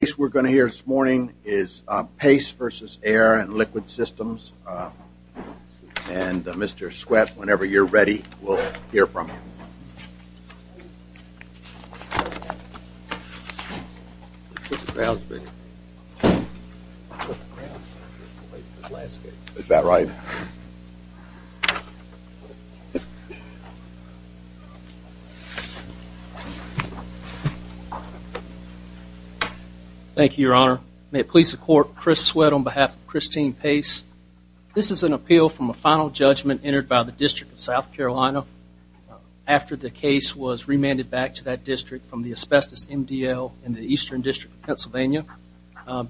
The case we are going to hear this morning is Pace v. Air & Liquid Systems and Mr. Sweat, whenever you are ready, we will hear from you. Mr. Sweat, on behalf of Christine Pace, this is an appeal from a final judgment entered by the District of South Carolina after the case was remanded back to that district from the Asbestos MDL in the Eastern District of Pennsylvania.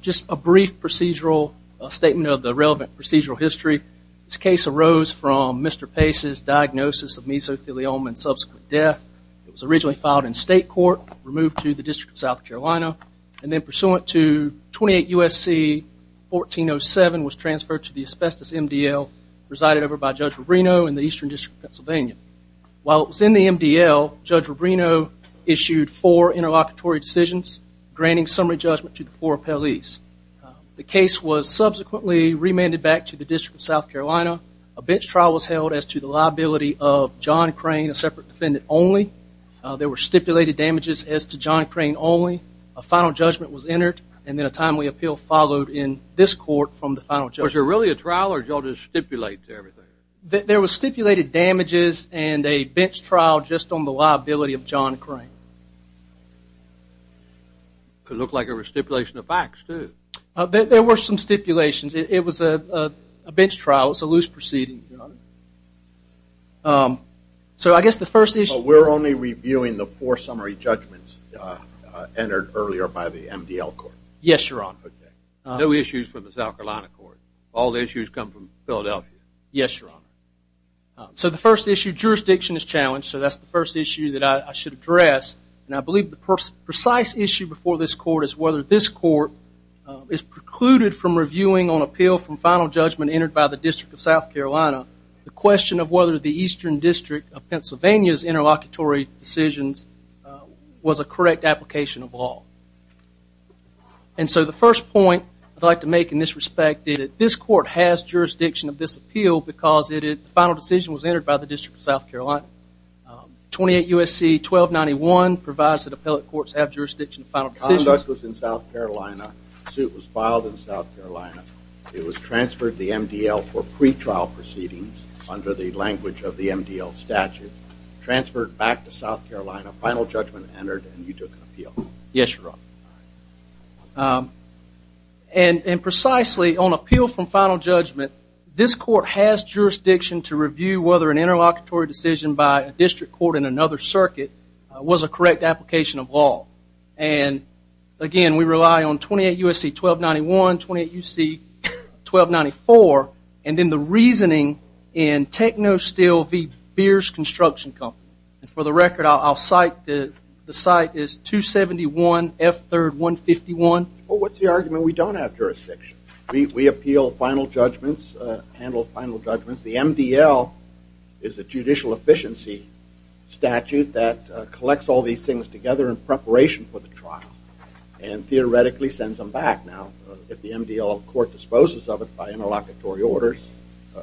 Just a brief procedural statement of the relevant procedural history. This case arose from Mr. Pace's diagnosis of mesothelioma and subsequent death. It was originally filed in state court, removed to the District of South Carolina, and then Pennsylvania. While it was in the MDL, Judge Rubino issued four interlocutory decisions granting summary judgment to the four appellees. The case was subsequently remanded back to the District of South Carolina. A bench trial was held as to the liability of John Crane, a separate defendant only. There were stipulated damages as to John Crane only. A final judgment was entered and then a timely appeal followed in this court from the final judgment. Was there really a trial or did you all just stipulate everything? There were stipulated damages and a bench trial just on the liability of John Crane. It looked like a restipulation of facts, too. There were some stipulations. It was a bench trial, it was a loose proceeding, Your Honor. So I guess the first issue- But we're only reviewing the four summary judgments entered earlier by the MDL court. Yes, Your Honor. Okay. No issues for the South Carolina court. All the issues come from Philadelphia. Yes, Your Honor. So the first issue, jurisdiction is challenged, so that's the first issue that I should address. And I believe the precise issue before this court is whether this court is precluded from reviewing on appeal from final judgment entered by the District of South Carolina the question of whether the Eastern District of Pennsylvania's interlocutory decisions was a correct application of law. And so the first point I'd like to make in this respect is that this court has jurisdiction of this appeal because the final decision was entered by the District of South Carolina. 28 U.S.C. 1291 provides that appellate courts have jurisdiction of final decisions. The conduct was in South Carolina, the suit was filed in South Carolina, it was transferred to the MDL for pretrial proceedings under the language of the MDL statute, transferred back to South Carolina, final judgment entered, and you took an appeal. Yes, Your Honor. And precisely on appeal from final judgment, this court has jurisdiction to review whether an interlocutory decision by a district court in another circuit was a correct application of law. And again, we rely on 28 U.S.C. 1291, 28 U.S.C. 1294, and then the reasoning in Technosteel v. Beers Construction Company. For the record, I'll cite, the cite is 271 F. 3rd. 151. Well, what's the argument we don't have jurisdiction? We appeal final judgments, handle final judgments. The MDL is a judicial efficiency statute that collects all these things together in preparation for the trial and theoretically sends them back. Now, if the MDL court disposes of it by interlocutory orders,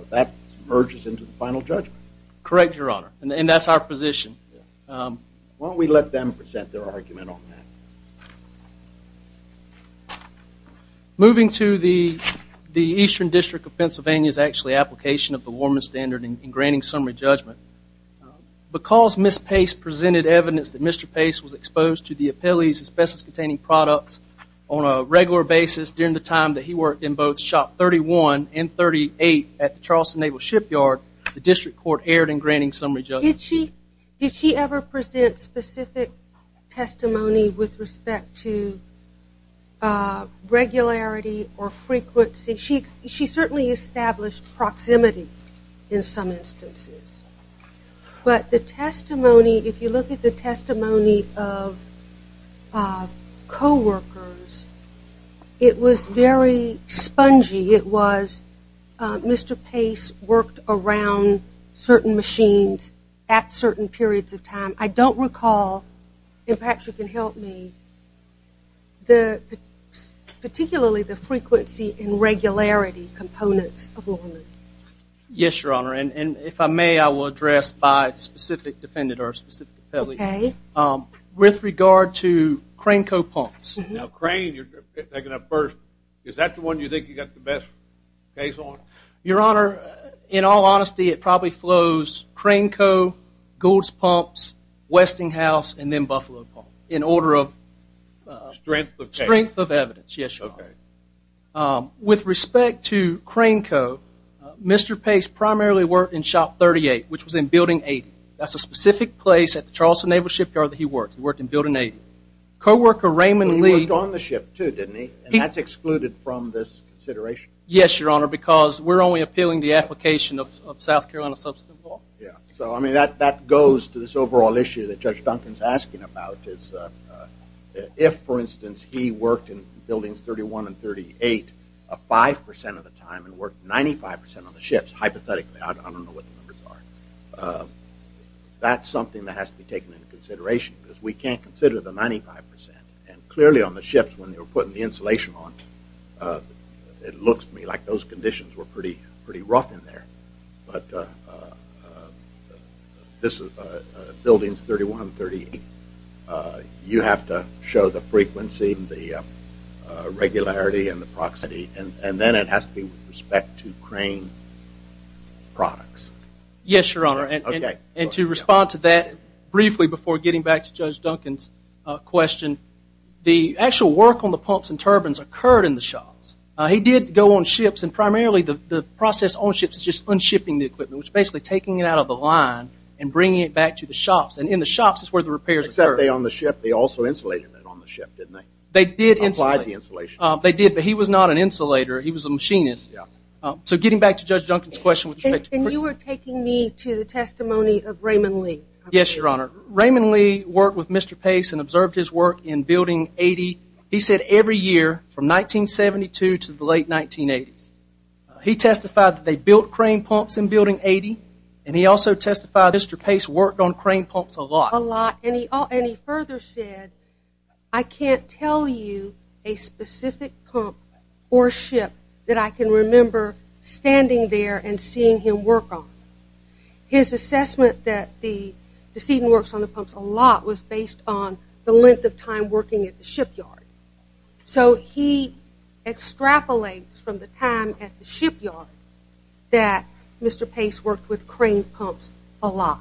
that merges into the final judgment. Correct, Your Honor. And that's our position. Yeah. Why don't we let them present their argument on that? Moving to the Eastern District of Pennsylvania's actually application of the Warman's Standard in granting summary judgment. Because Ms. Pace presented evidence that Mr. Pace was exposed to the appellee's asbestos-containing products on a regular basis during the time that he worked in both Shop 31 and 38 at the Did she ever present specific testimony with respect to regularity or frequency? She certainly established proximity in some instances. But the testimony, if you look at the testimony of coworkers, it was very spongy. It was Mr. Pace worked around certain machines at certain periods of time. I don't recall, and perhaps you can help me, particularly the frequency and regularity components of Warman. Yes, Your Honor. And if I may, I will address by specific defendant or specific appellee. With regard to Crane Co. Pumps. Now, Crane, you're picking up first. Is that the one you think you got the best case on? Your Honor, in all honesty, it probably flows Crane Co., Goulds Pumps, Westinghouse, and then Buffalo Pumps in order of strength of evidence. With respect to Crane Co., Mr. Pace primarily worked in Shop 38, which was in Building 80. That's a specific place at the Charleston Naval Shipyard that he worked. He worked in Building 80. Coworker Raymond Lee. He worked on the ship, too, didn't he? And that's excluded from this consideration? Yes, Your Honor, because we're only appealing the application of South Carolina Substantive Law. Yeah. So, I mean, that goes to this overall issue that Judge Duncan's asking about. If, for instance, he worked in Buildings 31 and 38 5% of the time and worked 95% of the ships, hypothetically, I don't know what the numbers are. But that's something that has to be taken into consideration because we can't consider the 95%. And clearly, on the ships, when they were putting the insulation on, it looks to me like those conditions were pretty rough in there. But this is Buildings 31 and 38. You have to show the frequency, the regularity, and the proximity. And then it has to be with respect to Crane products. Yes, Your Honor. Okay. And to respond to that briefly before getting back to Judge Duncan's question, the actual work on the pumps and turbines occurred in the shops. He did go on ships. And primarily, the process on ships is just unshipping the equipment, which is basically taking it out of the line and bringing it back to the shops. And in the shops is where the repairs occurred. Except they, on the ship, they also insulated it on the ship, didn't they? They did insulate it. Applied the insulation. They did. But he was not an insulator. He was a machinist. Yeah. So getting back to Judge Duncan's question with respect to- And you were taking me to the testimony of Raymond Lee. Yes, Your Honor. Raymond Lee worked with Mr. Pace and observed his work in Building 80. He said every year from 1972 to the late 1980s. He testified that they built crane pumps in Building 80. And he also testified Mr. Pace worked on crane pumps a lot. A lot. And he further said, I can't tell you a specific pump or ship that I can remember standing there and seeing him work on. His assessment that the decedent works on the pumps a lot was based on the length of time working at the shipyard. So he extrapolates from the time at the shipyard that Mr. Pace worked with crane pumps a lot.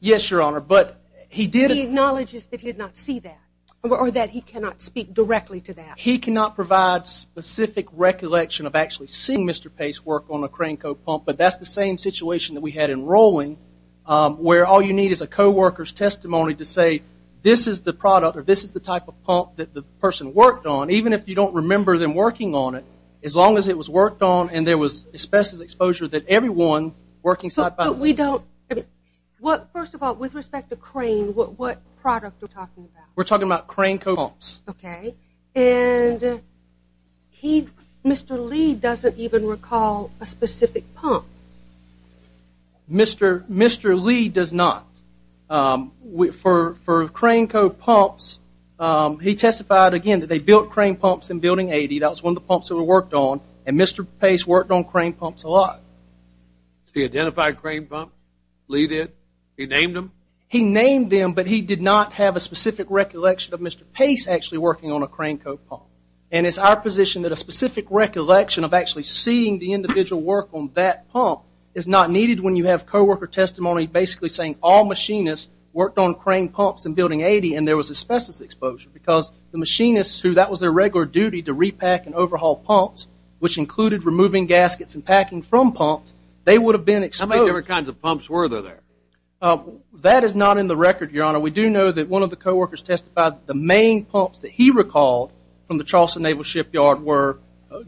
Yes, Your Honor. But he did- He acknowledges that he did not see that or that he cannot speak directly to that. He cannot provide specific recollection of actually seeing Mr. Pace work on a crane co-pump. But that's the same situation that we had in Rowling where all you need is a co-worker's testimony to say this is the product or this is the type of pump that the person worked on, even if you don't remember them working on it. As long as it was worked on and there was asbestos exposure that everyone working site-by-site- But we don't- First of all, with respect to crane, what product are we talking about? We're talking about crane co-pumps. Okay. And he, Mr. Lee, doesn't even recall a specific pump. Mr. Lee does not. For crane co-pumps, he testified, again, that they built crane pumps in Building 80. That was one of the pumps that were worked on. And Mr. Pace worked on crane pumps a lot. He identified crane pumps? Lee did? He named them? He named them, but he did not have a specific recollection of Mr. Pace actually working on a crane co-pump. And it's our position that a specific recollection of actually seeing the individual work on that pump is not needed when you have co-worker testimony basically saying all machinists worked on crane pumps in Building 80 and there was asbestos exposure because the machinists who that was their regular duty to repack and overhaul pumps, which included removing gaskets and packing from pumps, they would have been exposed- How many different kinds of pumps were there? That is not in the record, Your Honor. We do know that one of the co-workers testified that the main pumps that he recalled from the Charleston Naval Shipyard were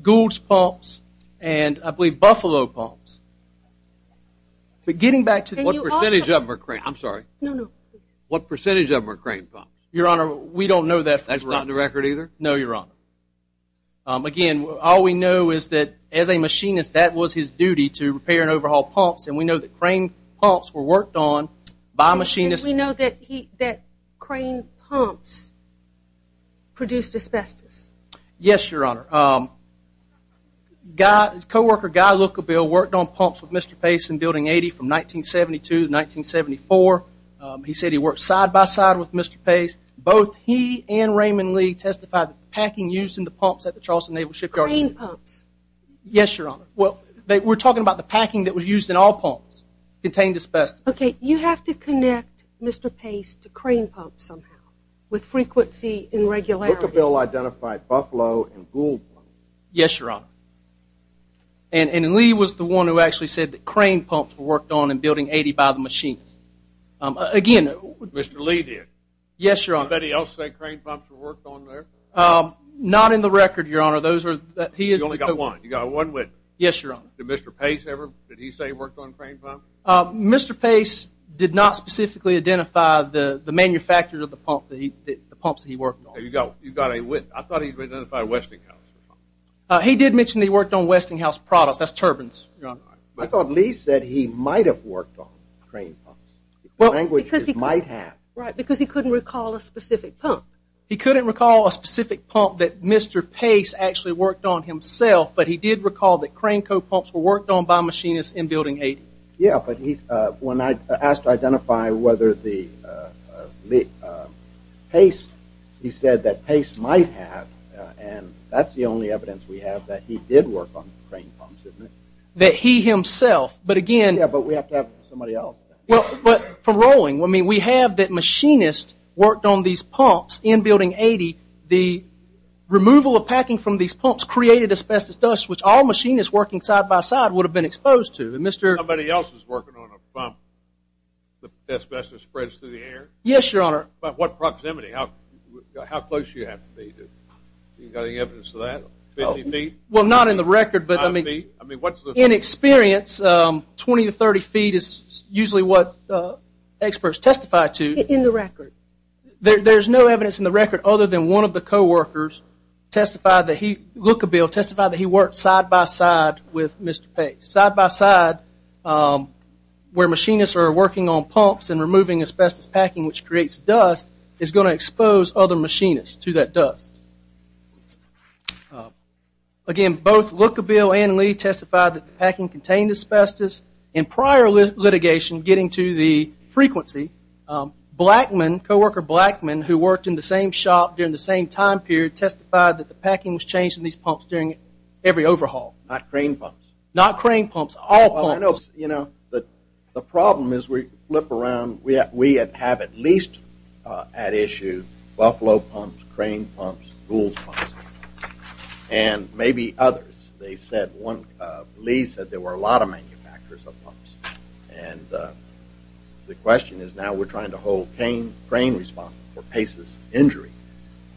Goulds pumps and I believe Buffalo pumps. But getting back to- And you also- What percentage of them are crane? I'm sorry. No, no. What percentage of them are crane pumps? Your Honor, we don't know that for- That's not in the record either? No, Your Honor. Again, all we know is that as a machinist, that was his duty to repair and overhaul pumps and we know that crane pumps were worked on by machinists- Did you say that crane pumps produced asbestos? Yes, Your Honor. Co-worker Guy Lukabil worked on pumps with Mr. Pace in Building 80 from 1972 to 1974. He said he worked side-by-side with Mr. Pace. Both he and Raymond Lee testified that the packing used in the pumps at the Charleston Naval Shipyard- Crane pumps? Yes, Your Honor. Well, we're talking about the packing that was used in all pumps contained asbestos. You have to connect Mr. Pace to crane pumps somehow with frequency and regularity. Lukabil identified Buffalo and Gould Pumps. Yes, Your Honor. And Lee was the one who actually said that crane pumps were worked on in Building 80 by the machinists. Again- Mr. Lee did? Yes, Your Honor. Did anybody else say crane pumps were worked on there? Not in the record, Your Honor. Those are- You only got one? You got one witness? Yes, Your Honor. Did Mr. Pace ever- did he say he worked on crane pumps? Mr. Pace did not specifically identify the manufacturers of the pumps that he worked on. You got a witness? I thought he identified Westinghouse. He did mention that he worked on Westinghouse products, that's turbines, Your Honor. I thought Lee said he might have worked on crane pumps. Well- Languages might have. Right, because he couldn't recall a specific pump. He couldn't recall a specific pump that Mr. Pace actually worked on himself, but he did recall that crane co-pumps were worked on by machinists in Building 80. Yeah, but he's- when I asked to identify whether the- Pace, he said that Pace might have, and that's the only evidence we have that he did work on crane pumps, isn't it? That he himself, but again- Yeah, but we have to have somebody else. Well, but from Rowling, I mean, we have that machinists worked on these pumps in Building 80. The removal of packing from these pumps created asbestos dust, which all machinists working side by side would have been exposed to. Somebody else is working on a pump, the asbestos spreads through the air? Yes, Your Honor. By what proximity? How close do you have to be? Do you have any evidence of that? Fifty feet? Well, not in the record, but I mean- Five feet? I mean, what's the- In experience, 20 to 30 feet is usually what experts testify to. In the record? There's no evidence in the record other than one of the co-workers testified that he- testified where machinists are working on pumps and removing asbestos packing, which creates dust, is going to expose other machinists to that dust. Again, both Lookabill and Lee testified that the packing contained asbestos. In prior litigation, getting to the frequency, Blackman, co-worker Blackman, who worked in the same shop during the same time period, testified that the packing was changed in these pumps during every overhaul. Not crane pumps? Not crane pumps. All pumps. Well, I know, you know, the problem is we flip around. We have at least at issue Buffalo pumps, crane pumps, Goulds pumps, and maybe others. They said one- Lee said there were a lot of manufacturers of pumps. And the question is now we're trying to hold crane responsible for Pace's injury.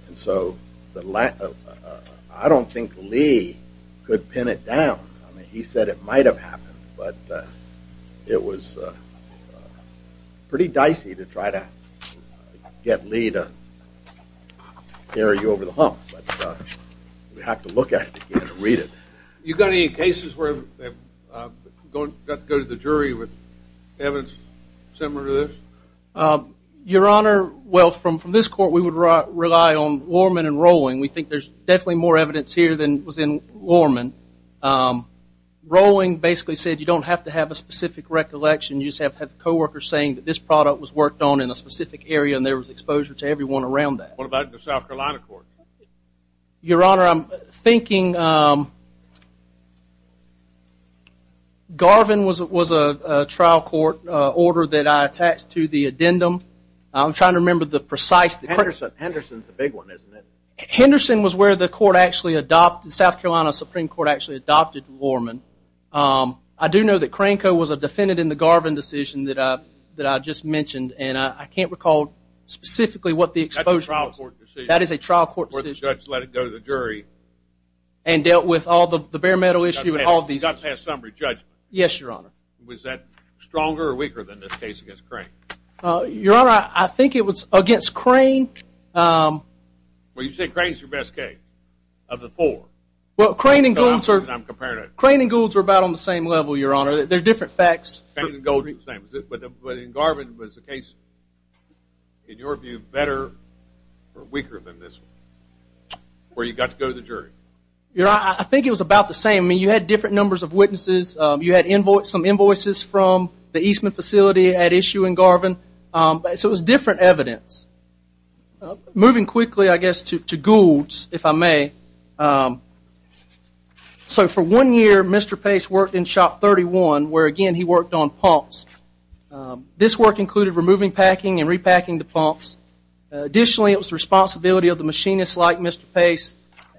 And so I don't think Lee could pin it down. I mean, he said it might have happened. But it was pretty dicey to try to get Lee to carry you over the hump. But we have to look at it again and read it. You got any cases where they got to go to the jury with evidence similar to this? Your Honor, well, from this court, we would rely on Warman and Rowling. We think there's definitely more evidence here than was in Warman. Rowling basically said you don't have to have a specific recollection. You just have to have co-workers saying that this product was worked on in a specific area and there was exposure to everyone around that. What about the South Carolina court? Your Honor, I'm thinking Garvin was a trial court order that I attached to the addendum. I'm trying to remember the precise... Henderson is a big one, isn't it? Henderson was where the South Carolina Supreme Court actually adopted Warman. I do know that Cranco was a defendant in the Garvin decision that I just mentioned. And I can't recall specifically what the exposure was. That's a trial court decision. That is a trial court decision. Where the judge let it go to the jury. And dealt with all the bare metal issue and all these issues. You got past summary, Judge. Yes, Your Honor. Was that stronger or weaker than this case against Crane? Your Honor, I think it was against Crane. Well, you said Crane's your best case of the four. Well, Crane and Goulds are about on the same level, Your Honor. They're different facts. Crane and Gould are the same. But in Garvin, was the case, in your view, better or weaker than this one? Where you got to go to the jury? I mean, you had different numbers of witnesses. You had some invoices from the Eastman facility at issue in Garvin. So it was different evidence. Moving quickly, I guess, to Goulds, if I may. So for one year, Mr. Pace worked in Shop 31. Where, again, he worked on pumps. This work included removing packing and repacking the pumps. Additionally, it was the responsibility of the machinists like Mr. Pace.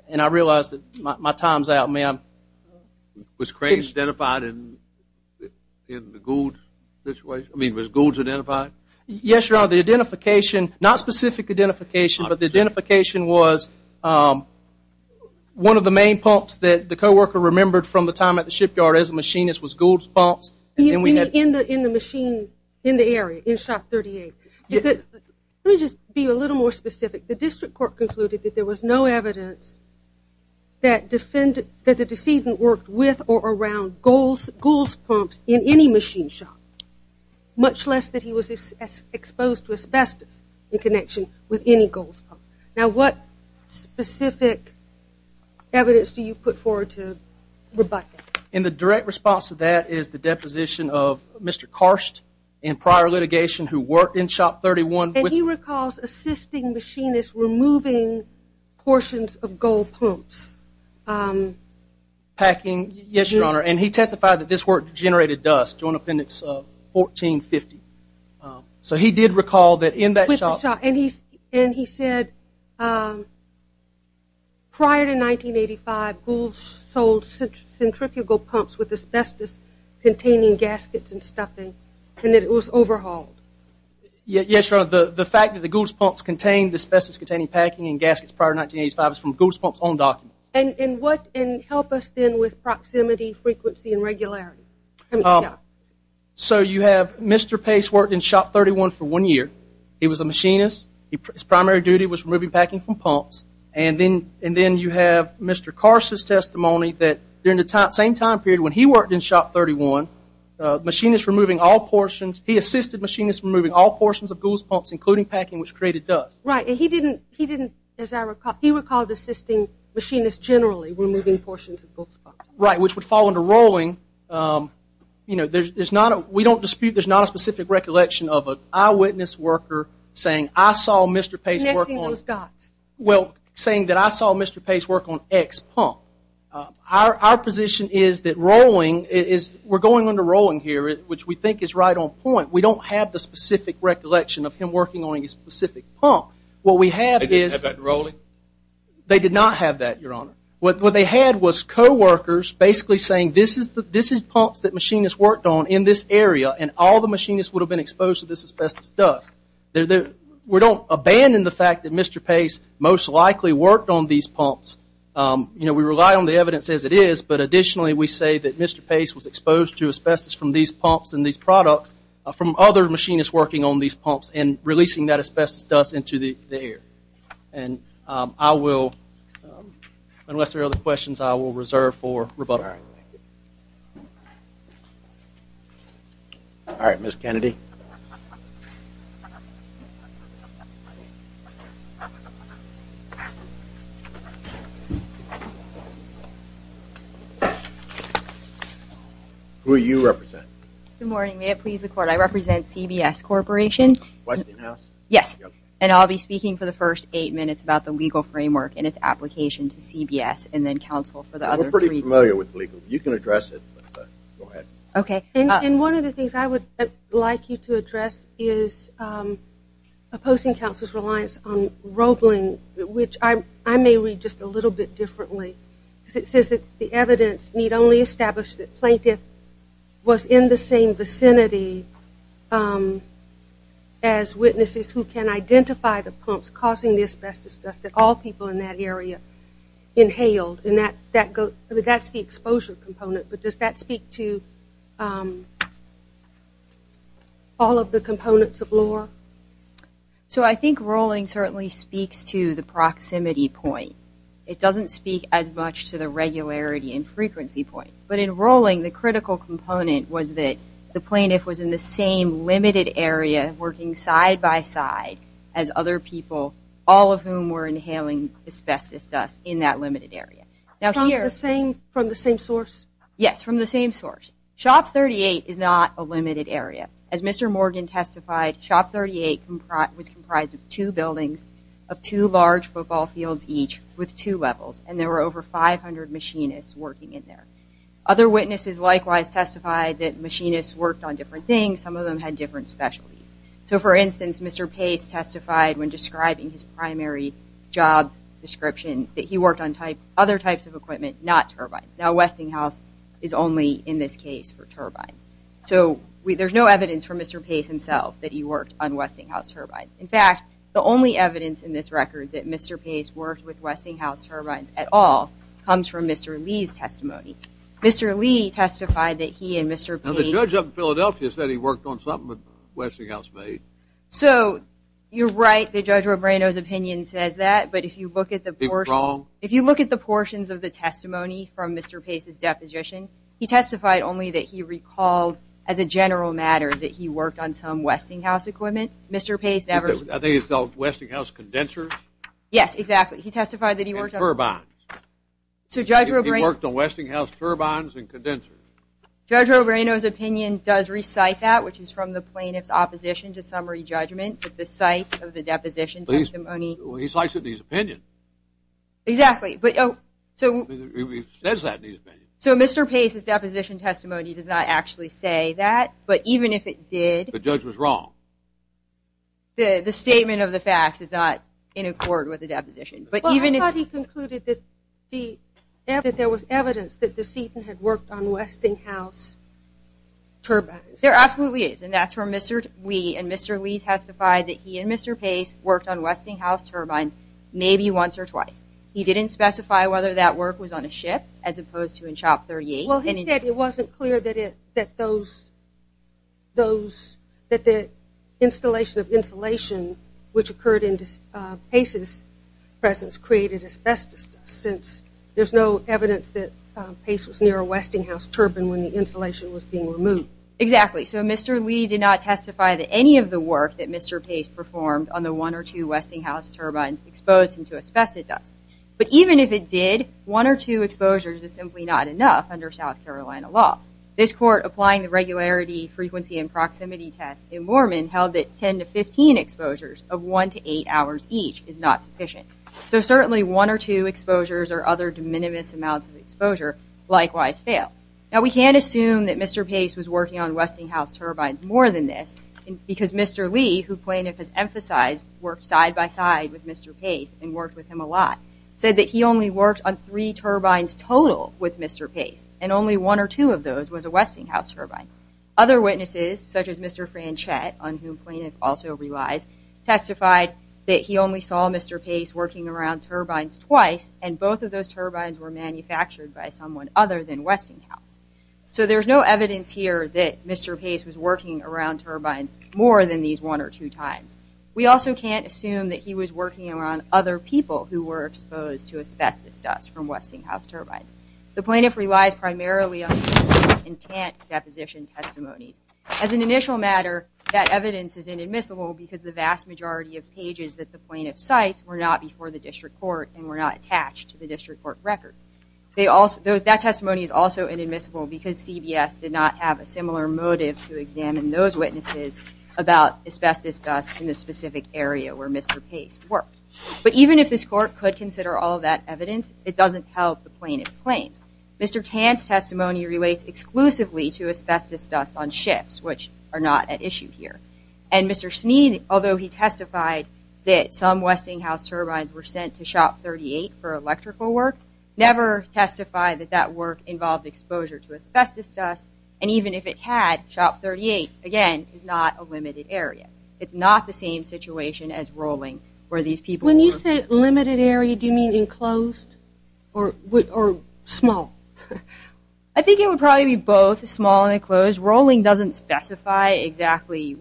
And I realize that my time's out. May I? Was Crane identified in the Goulds situation? I mean, was Goulds identified? Yes, Your Honor. The identification, not specific identification, but the identification was one of the main pumps that the co-worker remembered from the time at the shipyard as a machinist was Goulds pumps. In the machine, in the area, in Shop 38? Let me just be a little more specific. The district court concluded that there was no evidence that the decedent worked with or around Goulds pumps in any machine shop. Much less that he was exposed to asbestos in connection with any Goulds pump. Now what specific evidence do you put forward to rebut that? In the direct response to that is the deposition of Mr. Karst in prior litigation who worked in Shop 31. And he recalls assisting machinists removing portions of Gould pumps. Packing, yes, Your Honor. And he testified that this work generated dust, Joint Appendix 1450. So he did recall that in that shop. And he said prior to 1985, Goulds sold centrifugal pumps with asbestos-containing gaskets and stuffing. And that it was overhauled. Yes, Your Honor. The fact that the Goulds pumps contained asbestos-containing packing and gaskets prior to 1985 is from Goulds pumps' own documents. And help us then with proximity, frequency, and regularity. So you have Mr. Pace worked in Shop 31 for one year. He was a machinist. His primary duty was removing packing from pumps. And then you have Mr. Karst's testimony that during the same time period when he worked in Shop 31, he assisted machinists removing all portions of Goulds pumps, including packing, which created dust. Right, and he didn't, as I recall, he recalled assisting machinists generally removing portions of Goulds pumps. Right, which would fall under Rowling. We don't dispute, there's not a specific recollection of an eyewitness worker saying, I saw Mr. Pace work on X pump. Our position is that Rowling, we're going under Rowling here, which we think is right on point. We don't have the specific recollection of him working on a specific pump. They didn't have that in Rowling? They did not have that, Your Honor. What they had was co-workers basically saying, this is pumps that machinists worked on in this area, and all the machinists would have been exposed to this asbestos dust. We rely on the evidence as it is, but additionally we say that Mr. Pace was exposed to asbestos from these pumps and these products from other machinists working on these pumps and releasing that asbestos dust into the air. And I will, unless there are other questions, I will reserve for rebuttal. All right, Ms. Kennedy. Who do you represent? Good morning, may it please the court. I represent CBS Corporation. Yes, and I'll be speaking for the first eight minutes about the legal framework and its application to CBS and then counsel for the other three. We're pretty familiar with legal. You can address it, but go ahead. And one of the things I would like you to address is opposing counsel's reliance on Rowling, which I may read just a little bit, because it says that the evidence need only establish that plaintiff was in the same vicinity as witnesses who can identify the pumps causing the asbestos dust that all people in that area inhaled. And that's the exposure component, but does that speak to all of the components of law? So I think Rowling certainly speaks to the proximity point. It doesn't speak as much to the regularity and frequency point. But in Rowling, the critical component was that the plaintiff was in the same limited area working side by side as other people, all of whom were inhaling asbestos dust in that limited area. From the same source? Yes, from the same source. Shop 38 is not a limited area. As Mr. Morgan testified, Shop 38 was comprised of two buildings, of two large football fields each with two levels, and there were over 500 machinists working in there. Other witnesses likewise testified that machinists worked on different things. Some of them had different specialties. So for instance, Mr. Pace testified when describing his primary job description that he worked on other types of equipment, not turbines. Now Westinghouse is only in this case for turbines. So there's no evidence from Mr. Pace himself that he worked on Westinghouse turbines. In fact, the only evidence in this record that Mr. Pace worked with Westinghouse turbines at all comes from Mr. Lee's testimony. Mr. Lee testified that he and Mr. Pace... The judge of Philadelphia said he worked on something that Westinghouse made. So, you're right, the Judge Robrano's opinion says that, but if you look at the portions of the testimony from Mr. Pace's deposition, he testified only that he recalled as a general matter that he worked on some Westinghouse equipment. I think it's called Westinghouse condensers? Yes, exactly. He testified that he worked on... And turbines. He worked on Westinghouse turbines and condensers. Judge Robrano's opinion does recite that, which is from the plaintiff's opposition to summary judgment at the site of the deposition testimony. He cites it in his opinion. Exactly, but... He says that in his opinion. So Mr. Pace's deposition testimony does not actually say that, but even if it did... The statement of the facts is not in accord with the deposition. Well, I thought he concluded that there was evidence that DeSeton had worked on Westinghouse turbines. There absolutely is, and that's where Mr. Lee and Mr. Lee testified that he and Mr. Pace worked on Westinghouse turbines maybe once or twice. He didn't specify whether that work was on a ship as opposed to in CHOP 38. Well, he said it wasn't clear that those... that the installation of insulation, which occurred in Pace's presence, created asbestos dust, since there's no evidence that Pace was near a Westinghouse turbine when the insulation was being removed. Exactly, so Mr. Lee did not testify that any of the work that Mr. Pace performed on the one or two Westinghouse turbines exposed him to asbestos dust. But even if it did, one or two exposures is simply not enough under South Carolina law. This court, applying the regularity, frequency, and proximity test in Mormon, held that 10 to 15 exposures of one to eight hours each is not sufficient. So certainly one or two exposures or other de minimis amounts of exposure likewise fail. Now, we can't assume that Mr. Pace was working on Westinghouse turbines more than this, because Mr. Lee, who plaintiff has emphasized, worked side by side with Mr. Pace and worked with him a lot, said that he only worked on three turbines total with Mr. Pace, and only one or two of those was a Westinghouse turbine. Other witnesses, such as Mr. Franchette, on whom plaintiff also relies, testified that he only saw Mr. Pace working around turbines twice, and both of those turbines were manufactured by someone other than Westinghouse. So there's no evidence here that Mr. Pace was working around turbines more than these one or two times. We also can't assume that he was working around other people who were exposed to asbestos dust from Westinghouse turbines. The plaintiff relies primarily on intent deposition testimonies. As an initial matter, that evidence is inadmissible because the vast majority of pages that the plaintiff cites were not before the district court and were not attached to the district court record. That testimony is also inadmissible because CBS did not have a similar motive to examine those witnesses about asbestos dust in the specific area where Mr. Pace worked. But even if this court could consider all of that evidence, it doesn't help the plaintiff's claims. Mr. Tan's testimony relates exclusively to asbestos dust on ships, which are not at issue here. And Mr. Sneed, although he testified that some Westinghouse turbines were sent to Shop 38 for electrical work, never testified that that work involved exposure to asbestos dust, and even if it had, Shop 38, again, is not a limited area. It's not the same situation as Rowling where these people were... Limited area, do you mean enclosed? Or small? I think it would probably be both, small and enclosed. Rowling doesn't specify exactly...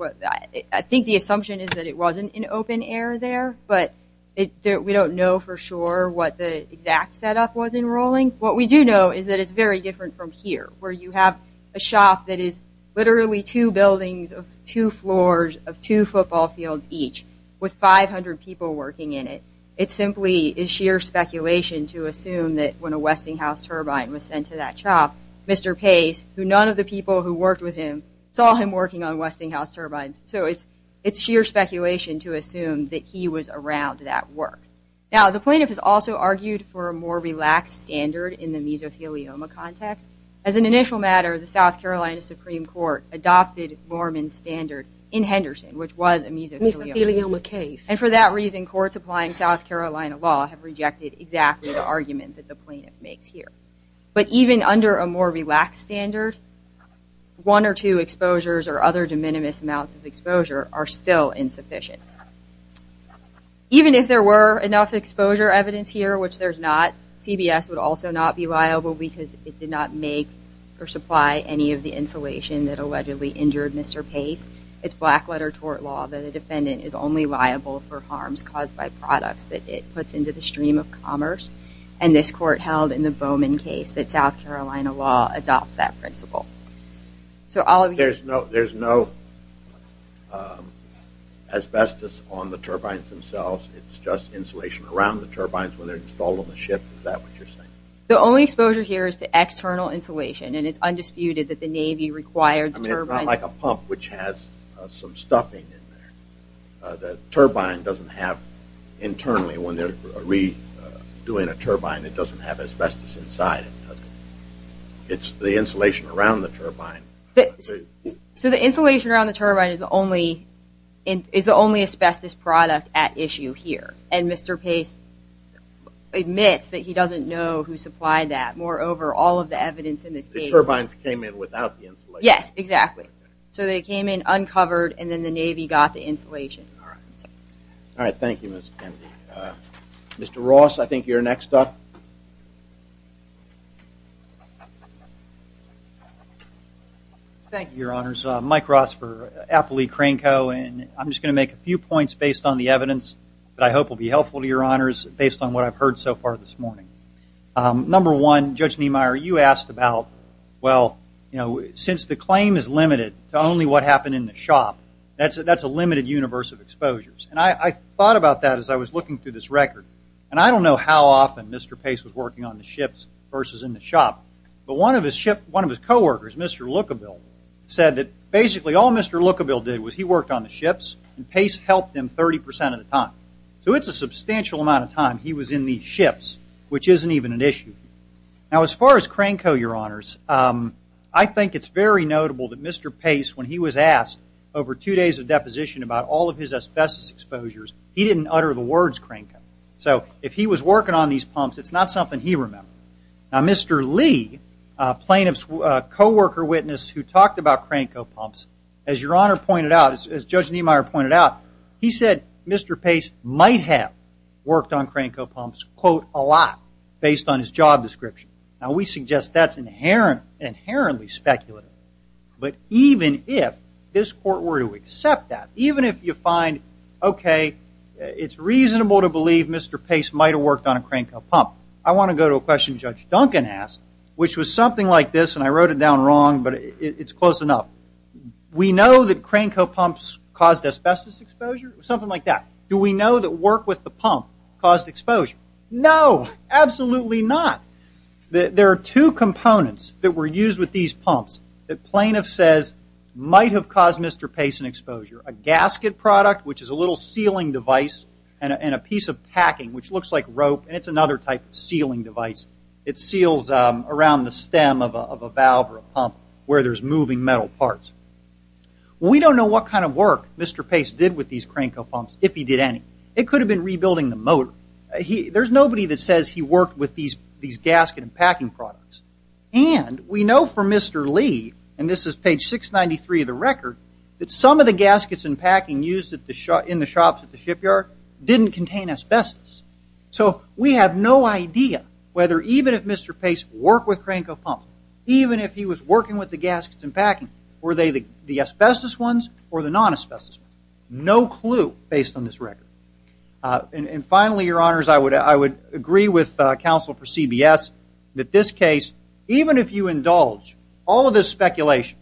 I think the assumption is that it wasn't in open air there, but we don't know for sure what the exact setup was in Rowling. What we do know is that it's very different from here, where you have a shop that is literally two buildings of two floors of two football fields each with 500 people working in it. It simply is sheer speculation to assume that when a Westinghouse turbine was sent to that shop, Mr. Pace, who none of the people who worked with him saw him working on Westinghouse turbines, so it's sheer speculation to assume that he was around that work. Now, the plaintiff has also argued for a more relaxed standard in the mesothelioma context. As an initial matter, the South Carolina Supreme Court adopted Mormon's standard in Henderson, which was a mesothelioma case. And for that reason, courts applying South Carolina law have rejected exactly the argument that the plaintiff makes here. But even under a more relaxed standard, one or two exposures or other de minimis amounts of exposure are still insufficient. Even if there were enough exposure evidence here, which there's not, CBS would also not be liable because it did not make or supply any of the insulation that allegedly injured Mr. Pace. It's black-letter tort law that the defendant is only liable for harms caused by products that it puts into the stream of commerce. And this court held in the Bowman case that South Carolina law adopts that principle. So all of you... There's no asbestos on the turbines themselves. It's just insulation around the turbines when they're installed on the ship. Is that what you're saying? The only exposure here is to external insulation, and it's undisputed that the Navy required turbines... I mean, it's not like a pump which has some stuffing in there. The turbine doesn't have, internally, when they're redoing a turbine, it doesn't have asbestos inside it, does it? It's the insulation around the turbine. So the insulation around the turbine is the only asbestos product at issue here. And Mr. Pace admits that he doesn't know who supplied that. Moreover, all of the evidence in this case... The turbines came in without the insulation. Yes, exactly. So they came in uncovered and then the Navy got the insulation. Alright, thank you, Ms. Kennedy. Mr. Ross, I think you're next up. Thank you, Your Honors. Mike Ross for Appley Crane Co. I'm just going to make a few points based on the evidence that I hope will be helpful to Your Honors based on what I've heard so far this morning. Number one, Judge Niemeyer, you asked about, well, since the claim is limited to only what happened in the shop, that's a limited universe of exposures. And I thought about that as I was looking through this record. And I don't know how often Mr. Pace was working on the ships versus in the shop, but one of his co-workers, Mr. Lookabill, said that basically all Mr. Lookabill did was he worked on the ships and Pace helped him 30% of the time. So it's a substantial amount of time he was in these ships, which isn't even an issue. Now, as far as Crane Co., I think it's very notable that Mr. Pace, when he was asked over two days of deposition about all of his asbestos exposures, he didn't utter the words Crane Co. So, if he was working on these pumps, it's not something he remembered. Now, Mr. Lee, a plaintiff's co-worker witness who talked about Crane Co. pumps, as Your Honor pointed out, as Judge Niemeyer pointed out, he said Mr. Pace might have worked on Crane Co. pumps, quote, a lot based on his job description. Now, we suggest that's inherently speculative. But even if this court were to accept that, even if you find okay, it's reasonable to believe Mr. Pace might have worked on a Crane Co. pump, I want to go to a question Judge Duncan asked, which was something like this, and I wrote it down wrong, but it's close enough. We know that Crane Co. pumps caused asbestos exposure, something like that. Do we know that work with the pump caused exposure? No! Absolutely not! There are two components that were used with these pumps that plaintiff says might have caused Mr. Pace an exposure. A gasket product, which is a little sealing device, and a piece of packing, which looks like rope, and it's another type of sealing device. It seals around the stem of a valve or a pump where there's moving metal parts. We don't know what kind of work he did any. It could have been rebuilding the motor. There's nobody that says he worked with these gasket and packing products. And, we know from Mr. Lee, and this is page 693 of the record, that some of the gaskets and packing used in the shops at the shipyard didn't contain asbestos. So, we have no idea whether even if Mr. Pace worked with Crane Co. pumps, even if he was working with the gaskets and packing, were they the asbestos ones or the non-asbestos ones? No clue, based on this record. And, finally, your honors, I would agree with counsel for CBS that this case, even if you indulge all of this speculation,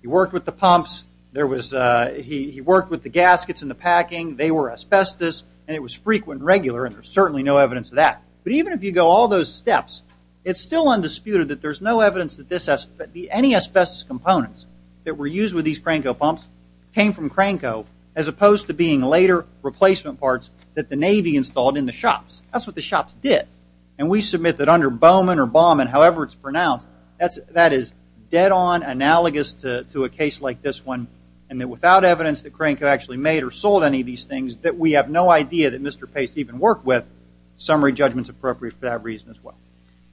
he worked with the pumps, he worked with the gaskets and the packing, they were asbestos, and it was frequent and regular, and there's certainly no evidence of that. But, even if you go all those steps, it's still undisputed that there's no evidence that any asbestos components that were used with these Crane Co. pumps came from Crane Co. as opposed to being later replacement parts that the Navy installed in the shops. That's what the shops did. And we submit that under Bowman or Baumann, however it's pronounced, that is dead-on analogous to a case like this one, and that without evidence that Crane Co. actually made or sold any of these things, that we have no idea that Mr. Pace even worked with, summary judgment's appropriate for that reason as well.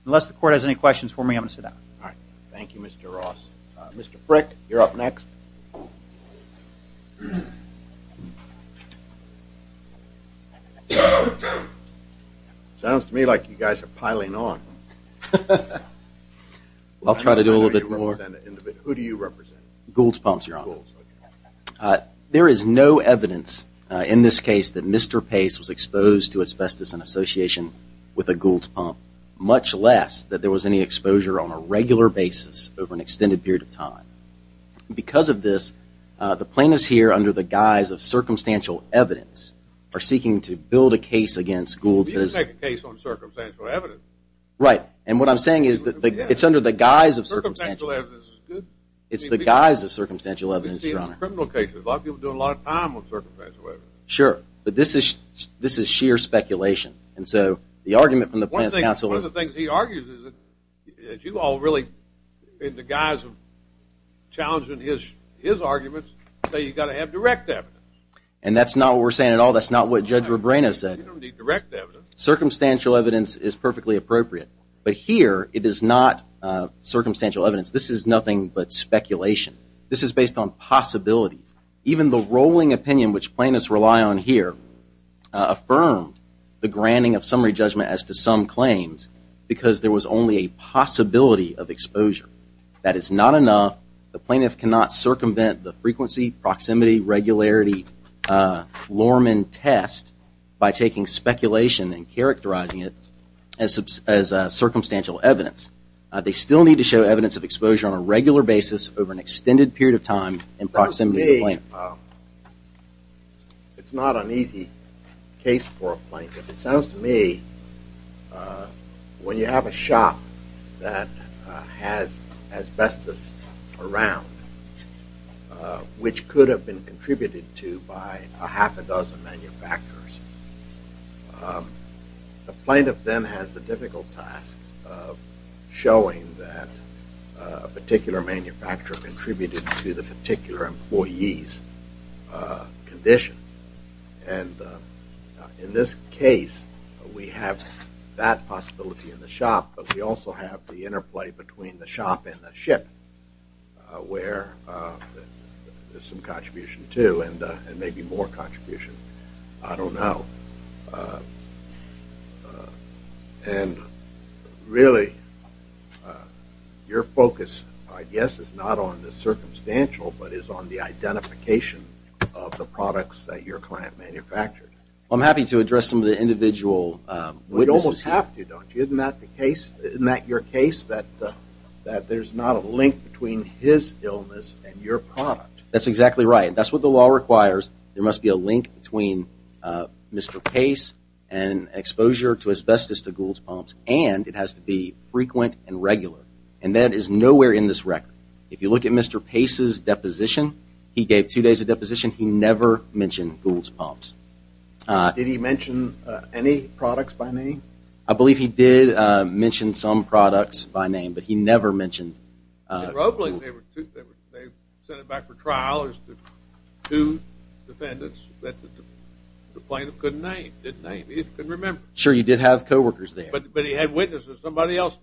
Unless the court has any questions for me, I'm going to sit down. Thank you, Mr. Ross. Mr. Frick, you're up next. Sounds to me like you guys are piling on. I'll try to do a little bit more. Who do you represent? Goulds Pumps, Your Honor. There is no evidence in this case that Mr. Pace was exposed to asbestos in association with a Goulds Pump, much less that there was any exposure on a regular basis over an extended period of time. Because of this, the plaintiffs here, under the guise of circumstantial evidence, are seeking to build a case against Goulds. You can make a case on circumstantial evidence. Right, and what I'm saying is that it's under the guise of circumstantial evidence. It's the guise of circumstantial evidence, Your Honor. A lot of people are doing a lot of time on circumstantial evidence. Sure, but this is sheer speculation. And so, the argument from the plaintiffs' counsel is that you all really in the guise of challenging his arguments, that you've got to have direct evidence. And that's not what we're saying at all. That's not what Judge Rebrano said. You don't need direct evidence. Circumstantial evidence is perfectly appropriate. But here, it is not circumstantial evidence. This is nothing but speculation. This is based on possibilities. Even the rolling opinion, which plaintiffs rely on here, affirmed the granting of summary judgment as to some claims because there was only a possibility of exposure. That is not enough. The plaintiff cannot circumvent the frequency, proximity, regularity, Lorman test by taking speculation and characterizing it as circumstantial evidence. They still need to show evidence of exposure on a regular basis over an extended period of time in proximity to the plaintiff. It's not an easy case for a plaintiff. It sounds to me when you have a shop that has asbestos around which could have been contributed to by a half a dozen manufacturers, the plaintiff then has the difficult task of showing that a particular manufacturer contributed to the particular employee's condition. In this case, we have that possibility in the shop, but we also have the interplay between the shop and the ship where there's some contribution to and maybe more contribution. I don't know. Really, your focus, I guess, is not on the circumstantial, but is on the identification of the products that your client manufactured. I'm happy to address some of the individual witnesses. You almost have to, don't you? Isn't that your case? That there's not a link between his illness and your product? That's exactly right. That's what the law requires. There must be a link between Mr. Pace and exposure to asbestos to Goulds Pumps and it has to be frequent and regular. That is nowhere in this record. If you look at Mr. Pace's deposition, he gave two days of deposition. He never mentioned Goulds Pumps. Did he mention any products by name? I believe he did mention some products by name, but he never mentioned Goulds Pumps. In Roebling, they sent it back for trial. Two defendants that the plaintiff couldn't name. He couldn't remember. Sure, you did have co-workers there. But he had witnesses. Somebody else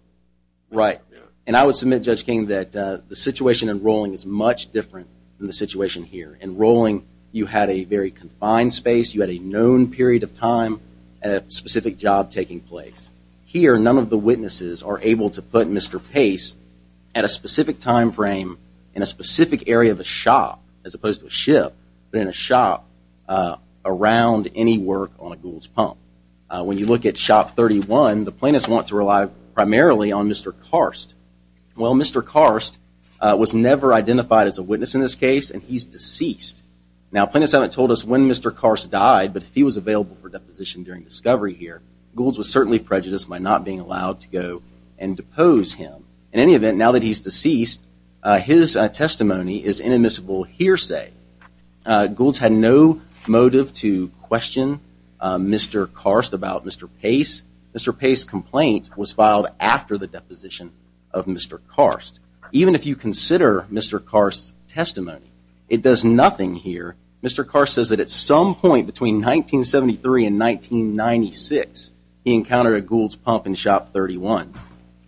Right. And I would submit, Judge King, that the situation in Rowling is much different than the situation here. In Rowling, you had a very confined space. You had a known period of time and a specific job taking place. Here, none of the witnesses are able to put Mr. Pace at a specific time frame in a specific area of a shop as opposed to a ship but in a shop around any work on a Goulds Pump. When you look at Shop 31, the plaintiffs want to rely primarily on Mr. Karst. Mr. Karst was never identified as a witness in this case and he's deceased. Now, plaintiffs haven't told us when Mr. Karst died, but if he was available for deposition during discovery here, Goulds was certainly prejudiced by not being allowed to go and depose him. In any event, now that he's deceased, his testimony is inadmissible hearsay. Goulds had no motive to question Mr. Karst about Mr. Pace. Mr. Pace's complaint was filed after the deposition of Mr. Karst. Even if you consider Mr. Karst's testimony, it does nothing here. Mr. Karst says that at some point between 1973 and 1996, he encountered a Goulds Pump in Shop 31.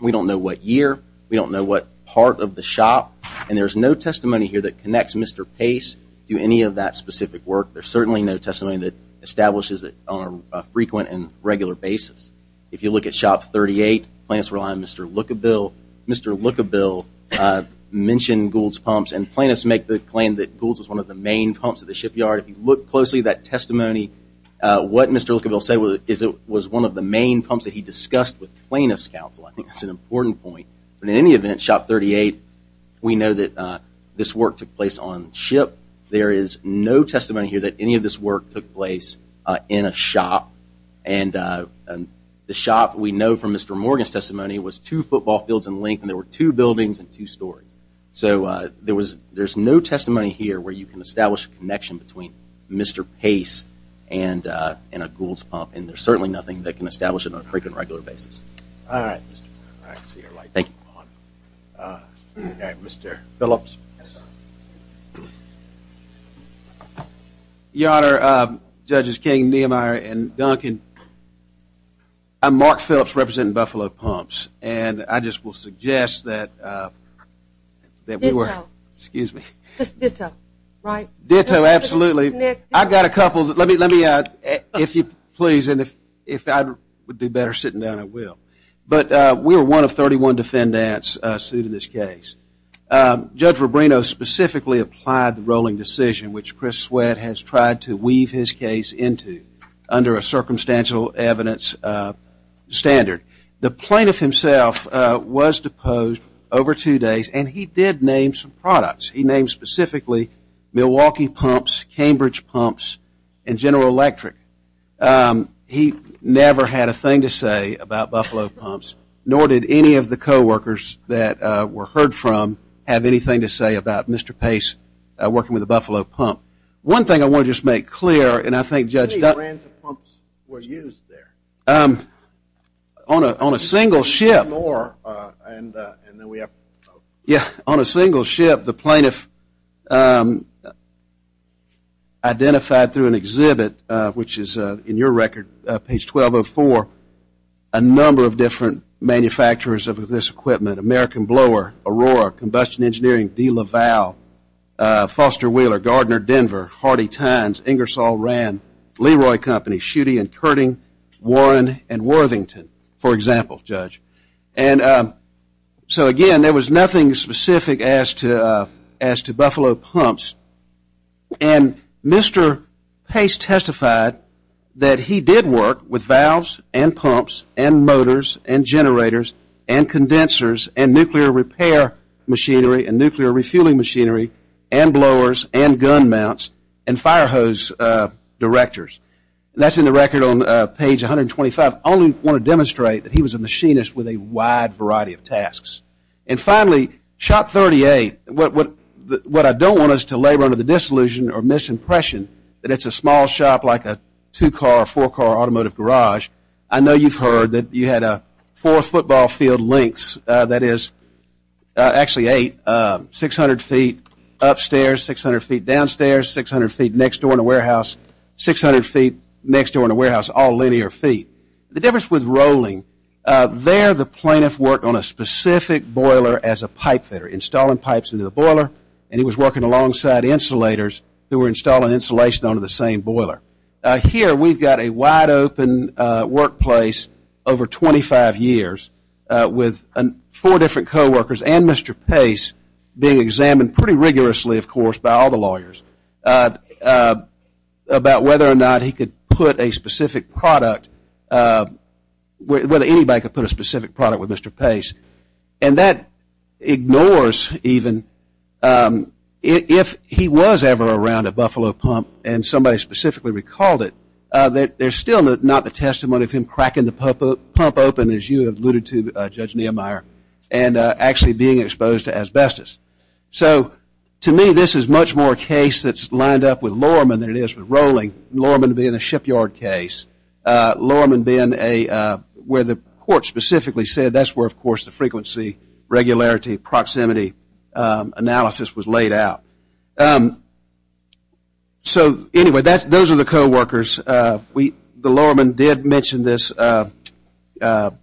We don't know what year, we don't know what part of the shop, and there's no testimony here that connects Mr. Pace to any of that specific work. There's certainly no testimony that establishes it on a frequent and regular basis. If you look at Shop 38, plaintiffs rely on Mr. Lukabil. Mr. Lukabil mentioned Goulds Pumps and plaintiffs make the claim that Goulds was one of the main pumps at the shipyard. If you look closely at that testimony, what Mr. Lukabil said was that it was one of the main pumps that he discussed with plaintiffs' counsel. I think that's an important point. In any event, Shop 38, we know that this work took place on ship. There is no testimony here that any of this work took place in a shop. The shop, we know from Mr. Morgan's testimony, was two football fields in length and there were two buildings and two stories. So there's no testimony here where you can establish a connection between Mr. Pace and a Goulds Pump and there's certainly nothing that can establish it on a frequent and regular basis. Thank you. Mr. Phillips. Your Honor, Judges King, Niemeyer, and Duncan, I'm Mark Phillips, representing Buffalo Pumps, and I just will suggest that that we were Ditto, right? Ditto, absolutely. Let me, if you please, and if I would do better sitting down, I will. We are one of 31 defendants sued in this case. Judge Rubino specifically applied the rolling decision, which Chris Sweat has tried to weave his case into under a circumstantial evidence standard. The plaintiff himself was deposed over two days and he did name some products. He named specifically Milwaukee Pumps, Cambridge Pumps, and General Electric. He never had a thing to say about Buffalo Pumps, nor did any of the co-workers that were heard from have anything to say about Mr. Pace working with the Buffalo Pump. One thing I want to just make clear, and I think Judge Duncan How many brands of pumps were used there? On a single ship. On a single ship, the plaintiff identified through an exhibit, which is in your record, page 1204, a number of different manufacturers of this equipment. American Blower, Aurora, Combustion Engineering, DeLaval, Foster Wheeler, Gardner Denver, Hardy Tynes, Ingersoll Rand, Leroy Company, Schutte and Kurting, Warren and Worthington. For example, Judge. Again, there was nothing specific as to Buffalo Pumps. Mr. Pace testified that he did work with valves, and pumps, and motors, and generators, and condensers, and nuclear repair machinery, and nuclear refueling machinery, and blowers, and gun mounts, and fire hose directors. That is in the record on page 125. I only want to demonstrate that he was a machinist with a wide variety of tasks. And finally, Shop 38. What I don't want is to labor under the disillusion or misimpression that it's a small shop like a two-car, four-car automotive garage. I know you've heard that you had four football field lengths. That is, actually eight, 600 feet upstairs, 600 feet downstairs, 600 feet next door in a warehouse, 600 feet next door in a warehouse, all linear feet. The difference with Rowling, there the plaintiff worked on a specific boiler as a pipe fitter, installing pipes into the boiler, and he was working alongside insulators who were installing insulation onto the same boiler. Here we've got a wide open workplace over 25 years with four different co-workers and Mr. Pace being examined pretty rigorously, of course, by all the lawyers about whether or not he could put a specific product, whether anybody could put a specific product with Mr. Pace. And that ignores even if he was ever around a Buffalo pump and somebody specifically recalled it, there's still not the testimony of him cracking the pump open, as you alluded to, Judge Niemeyer, and actually being exposed to asbestos. So, to me, this is much more a case that's Rowling, Lohrman being a shipyard case, Lohrman being where the court specifically said that's where, of course, the frequency regularity, proximity analysis was laid out. So, anyway, those are the co-workers. The Lohrman did mention this, that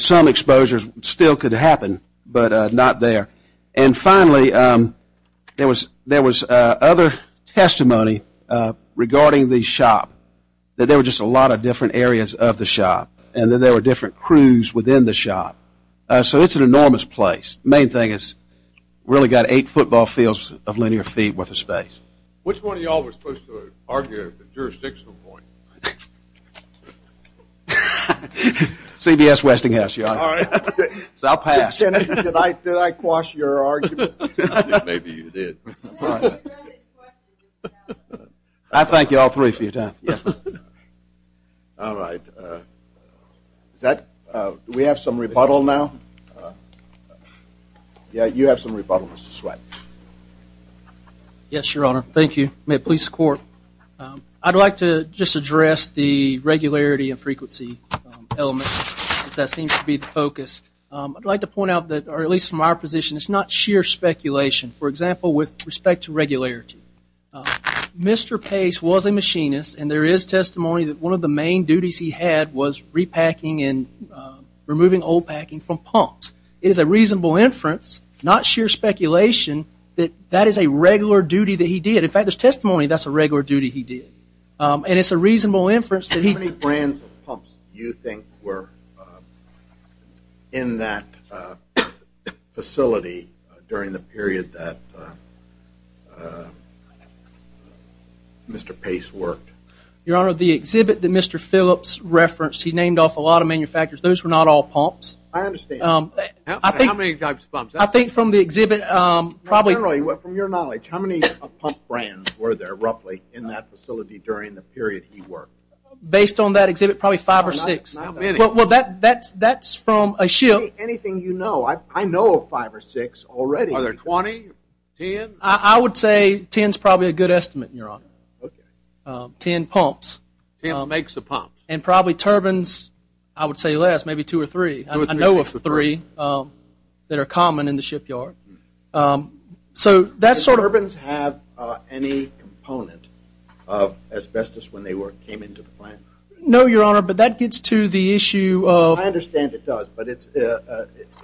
some exposures still could happen, but not there. And finally, there was other testimony regarding the shop, that there were just a lot of different areas of the shop, and that there were different crews within the shop. So, it's an enormous place. The main thing is really got eight football fields of linear feet worth of space. Which one of y'all was supposed to argue the jurisdictional point? CBS Westinghouse, Your Honor. So, I'll pass. Did I quash your argument? I think maybe you did. I thank you all three for your time. Yes. Alright. Do we have some rebuttal now? Yeah, you have some rebuttal, Mr. Sweat. Yes, Your Honor. Thank you. May it please the court. I'd like to just address the regularity and frequency element, because that seems to be the focus. I'd like to point out that at least from our position, it's not sheer speculation. For example, with respect to regularity. Mr. Pace was a machinist, and there is testimony that one of the main duties he had was repacking and removing old packing from pumps. It is a reasonable inference, not sheer speculation, that that is a regular duty that he did. In fact, there's testimony that's a regular duty he did. And it's a reasonable inference that he... How many brands of pumps do you think were in that facility during the period that Mr. Pace worked? Your Honor, the exhibit that Mr. Phillips referenced, he named off a lot of manufacturers. Those were not all pumps. I understand. How many types of pumps? I think from the exhibit... From your knowledge, how many pump brands were there, roughly, in that facility during the period he worked? Based on that exhibit, probably five or six. How many? Anything you know. I know of five or six already. Are there twenty? Ten? I would say ten's probably a good estimate, Your Honor. Ten pumps. Ten makes of pumps. And probably turbines, I would say less, maybe two or three. I know of three that are common in the shipyard. Do turbines have any component of asbestos when they came into the plant? No, Your Honor, but that gets to the issue of... I understand it does, but it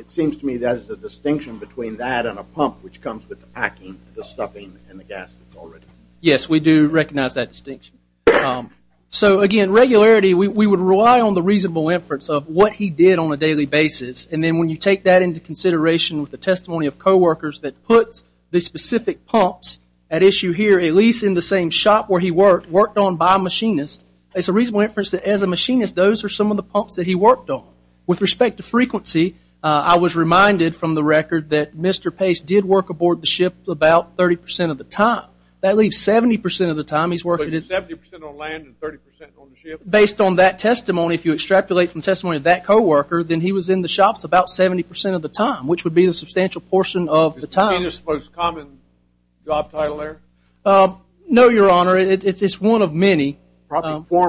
seems to me that there's a distinction between that and a pump which comes with the packing, the stuffing, and the gas already. Yes, we do recognize that distinction. So, again, regularity, we would rely on the reasonable inference of what he did on a daily basis, and then when you take that into consideration with the testimony of co-workers that puts the specific pumps at issue here, at least in the same shop where he worked, worked on by a machinist, it's a reasonable inference that as a machinist, those are some of the pumps that he worked on. With respect to frequency, I was reminded from the record that Mr. Pace did work aboard the ship about 30% of the time. That leaves 70% of the time he's working... 70% on land and 30% on the ship? Based on that testimony, if you extrapolate from testimony of that co-worker, then he was in the shops about 70% of the time, which would be a substantial portion of the time. Is machinist the most common job title there? No, Your Honor. It's one of many. There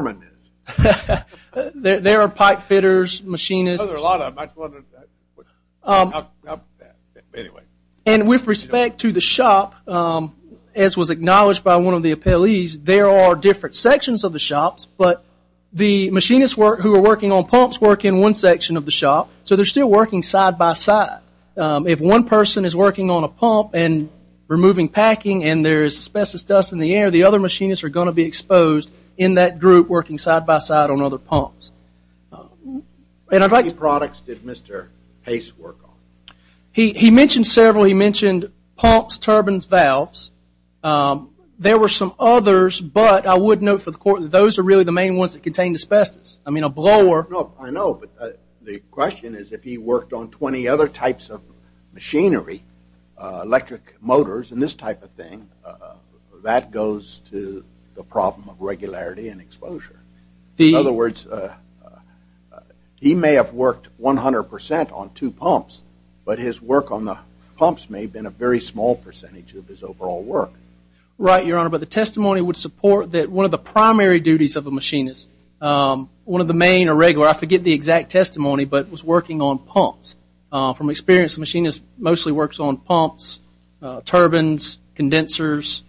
are pipe fitters, machinists... And with respect to the shop, as was acknowledged by one of the appellees, there are different sections of the shops, but the machinists who are working on pumps work in one section of the shop, so they're still working side by side. If one person is working on a pump and there is asbestos dust in the air, the other machinists are going to be exposed in that group working side by side on other pumps. How many products did Mr. Pace work on? He mentioned several. He mentioned pumps, turbines, valves. There were some others, but I would note for the Court that those are really the main ones that contained asbestos. I mean, a blower... I know, but the question is if he worked on 20 other types of machinery, electric motors, and this type of thing, that goes to the problem of regularity and exposure. In other words, he may have worked 100% on two pumps, but his work on the pumps may have been a very small percentage of his overall work. Right, Your Honor, but the testimony would support that one of the primary duties of a machinist, one of the main or regular, I forget the exact testimony, but was working on pumps. From experience, the machinist mostly works on pumps, turbines, condensers,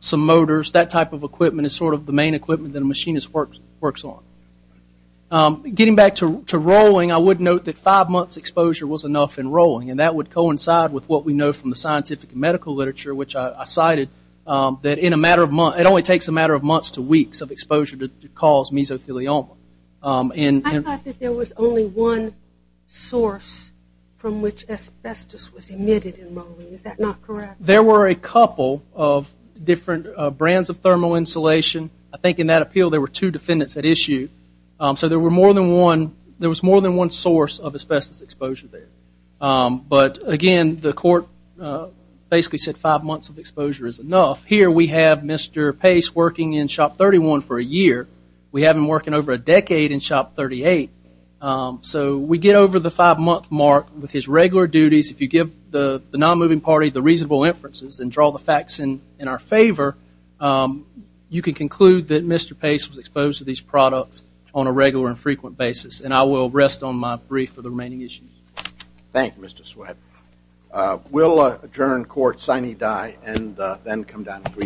some motors. That type of equipment is sort of the main equipment that a machinist works on. Getting back to rolling, I would note that five months exposure was enough in rolling, and that would coincide with what we know from the scientific and medical literature, which I cited, that in a matter of months, it only takes a matter of months to weeks of exposure to cause mesothelioma. I thought that there was only one source from which asbestos was emitted in rolling. Is that not correct? There were a couple of different brands of thermal insulation. I think in that appeal, there were two defendants that issued. So there were more than one, there was more than one source of asbestos exposure there. But again, the court basically said five months of exposure is enough. Here we have Mr. Pace working in Shop 31 for a year. We have him working over a decade in Shop 38. So we get over the five month mark with his regular duties. If you give the non-moving party the reasonable inferences and draw the facts in our favor, you can conclude that Mr. Pace was exposed to these products on a regular and frequent basis. And I will rest on my brief for the remaining issues. Thank you, Mr. Sweatt. We'll adjourn court sine die and then come down to brief.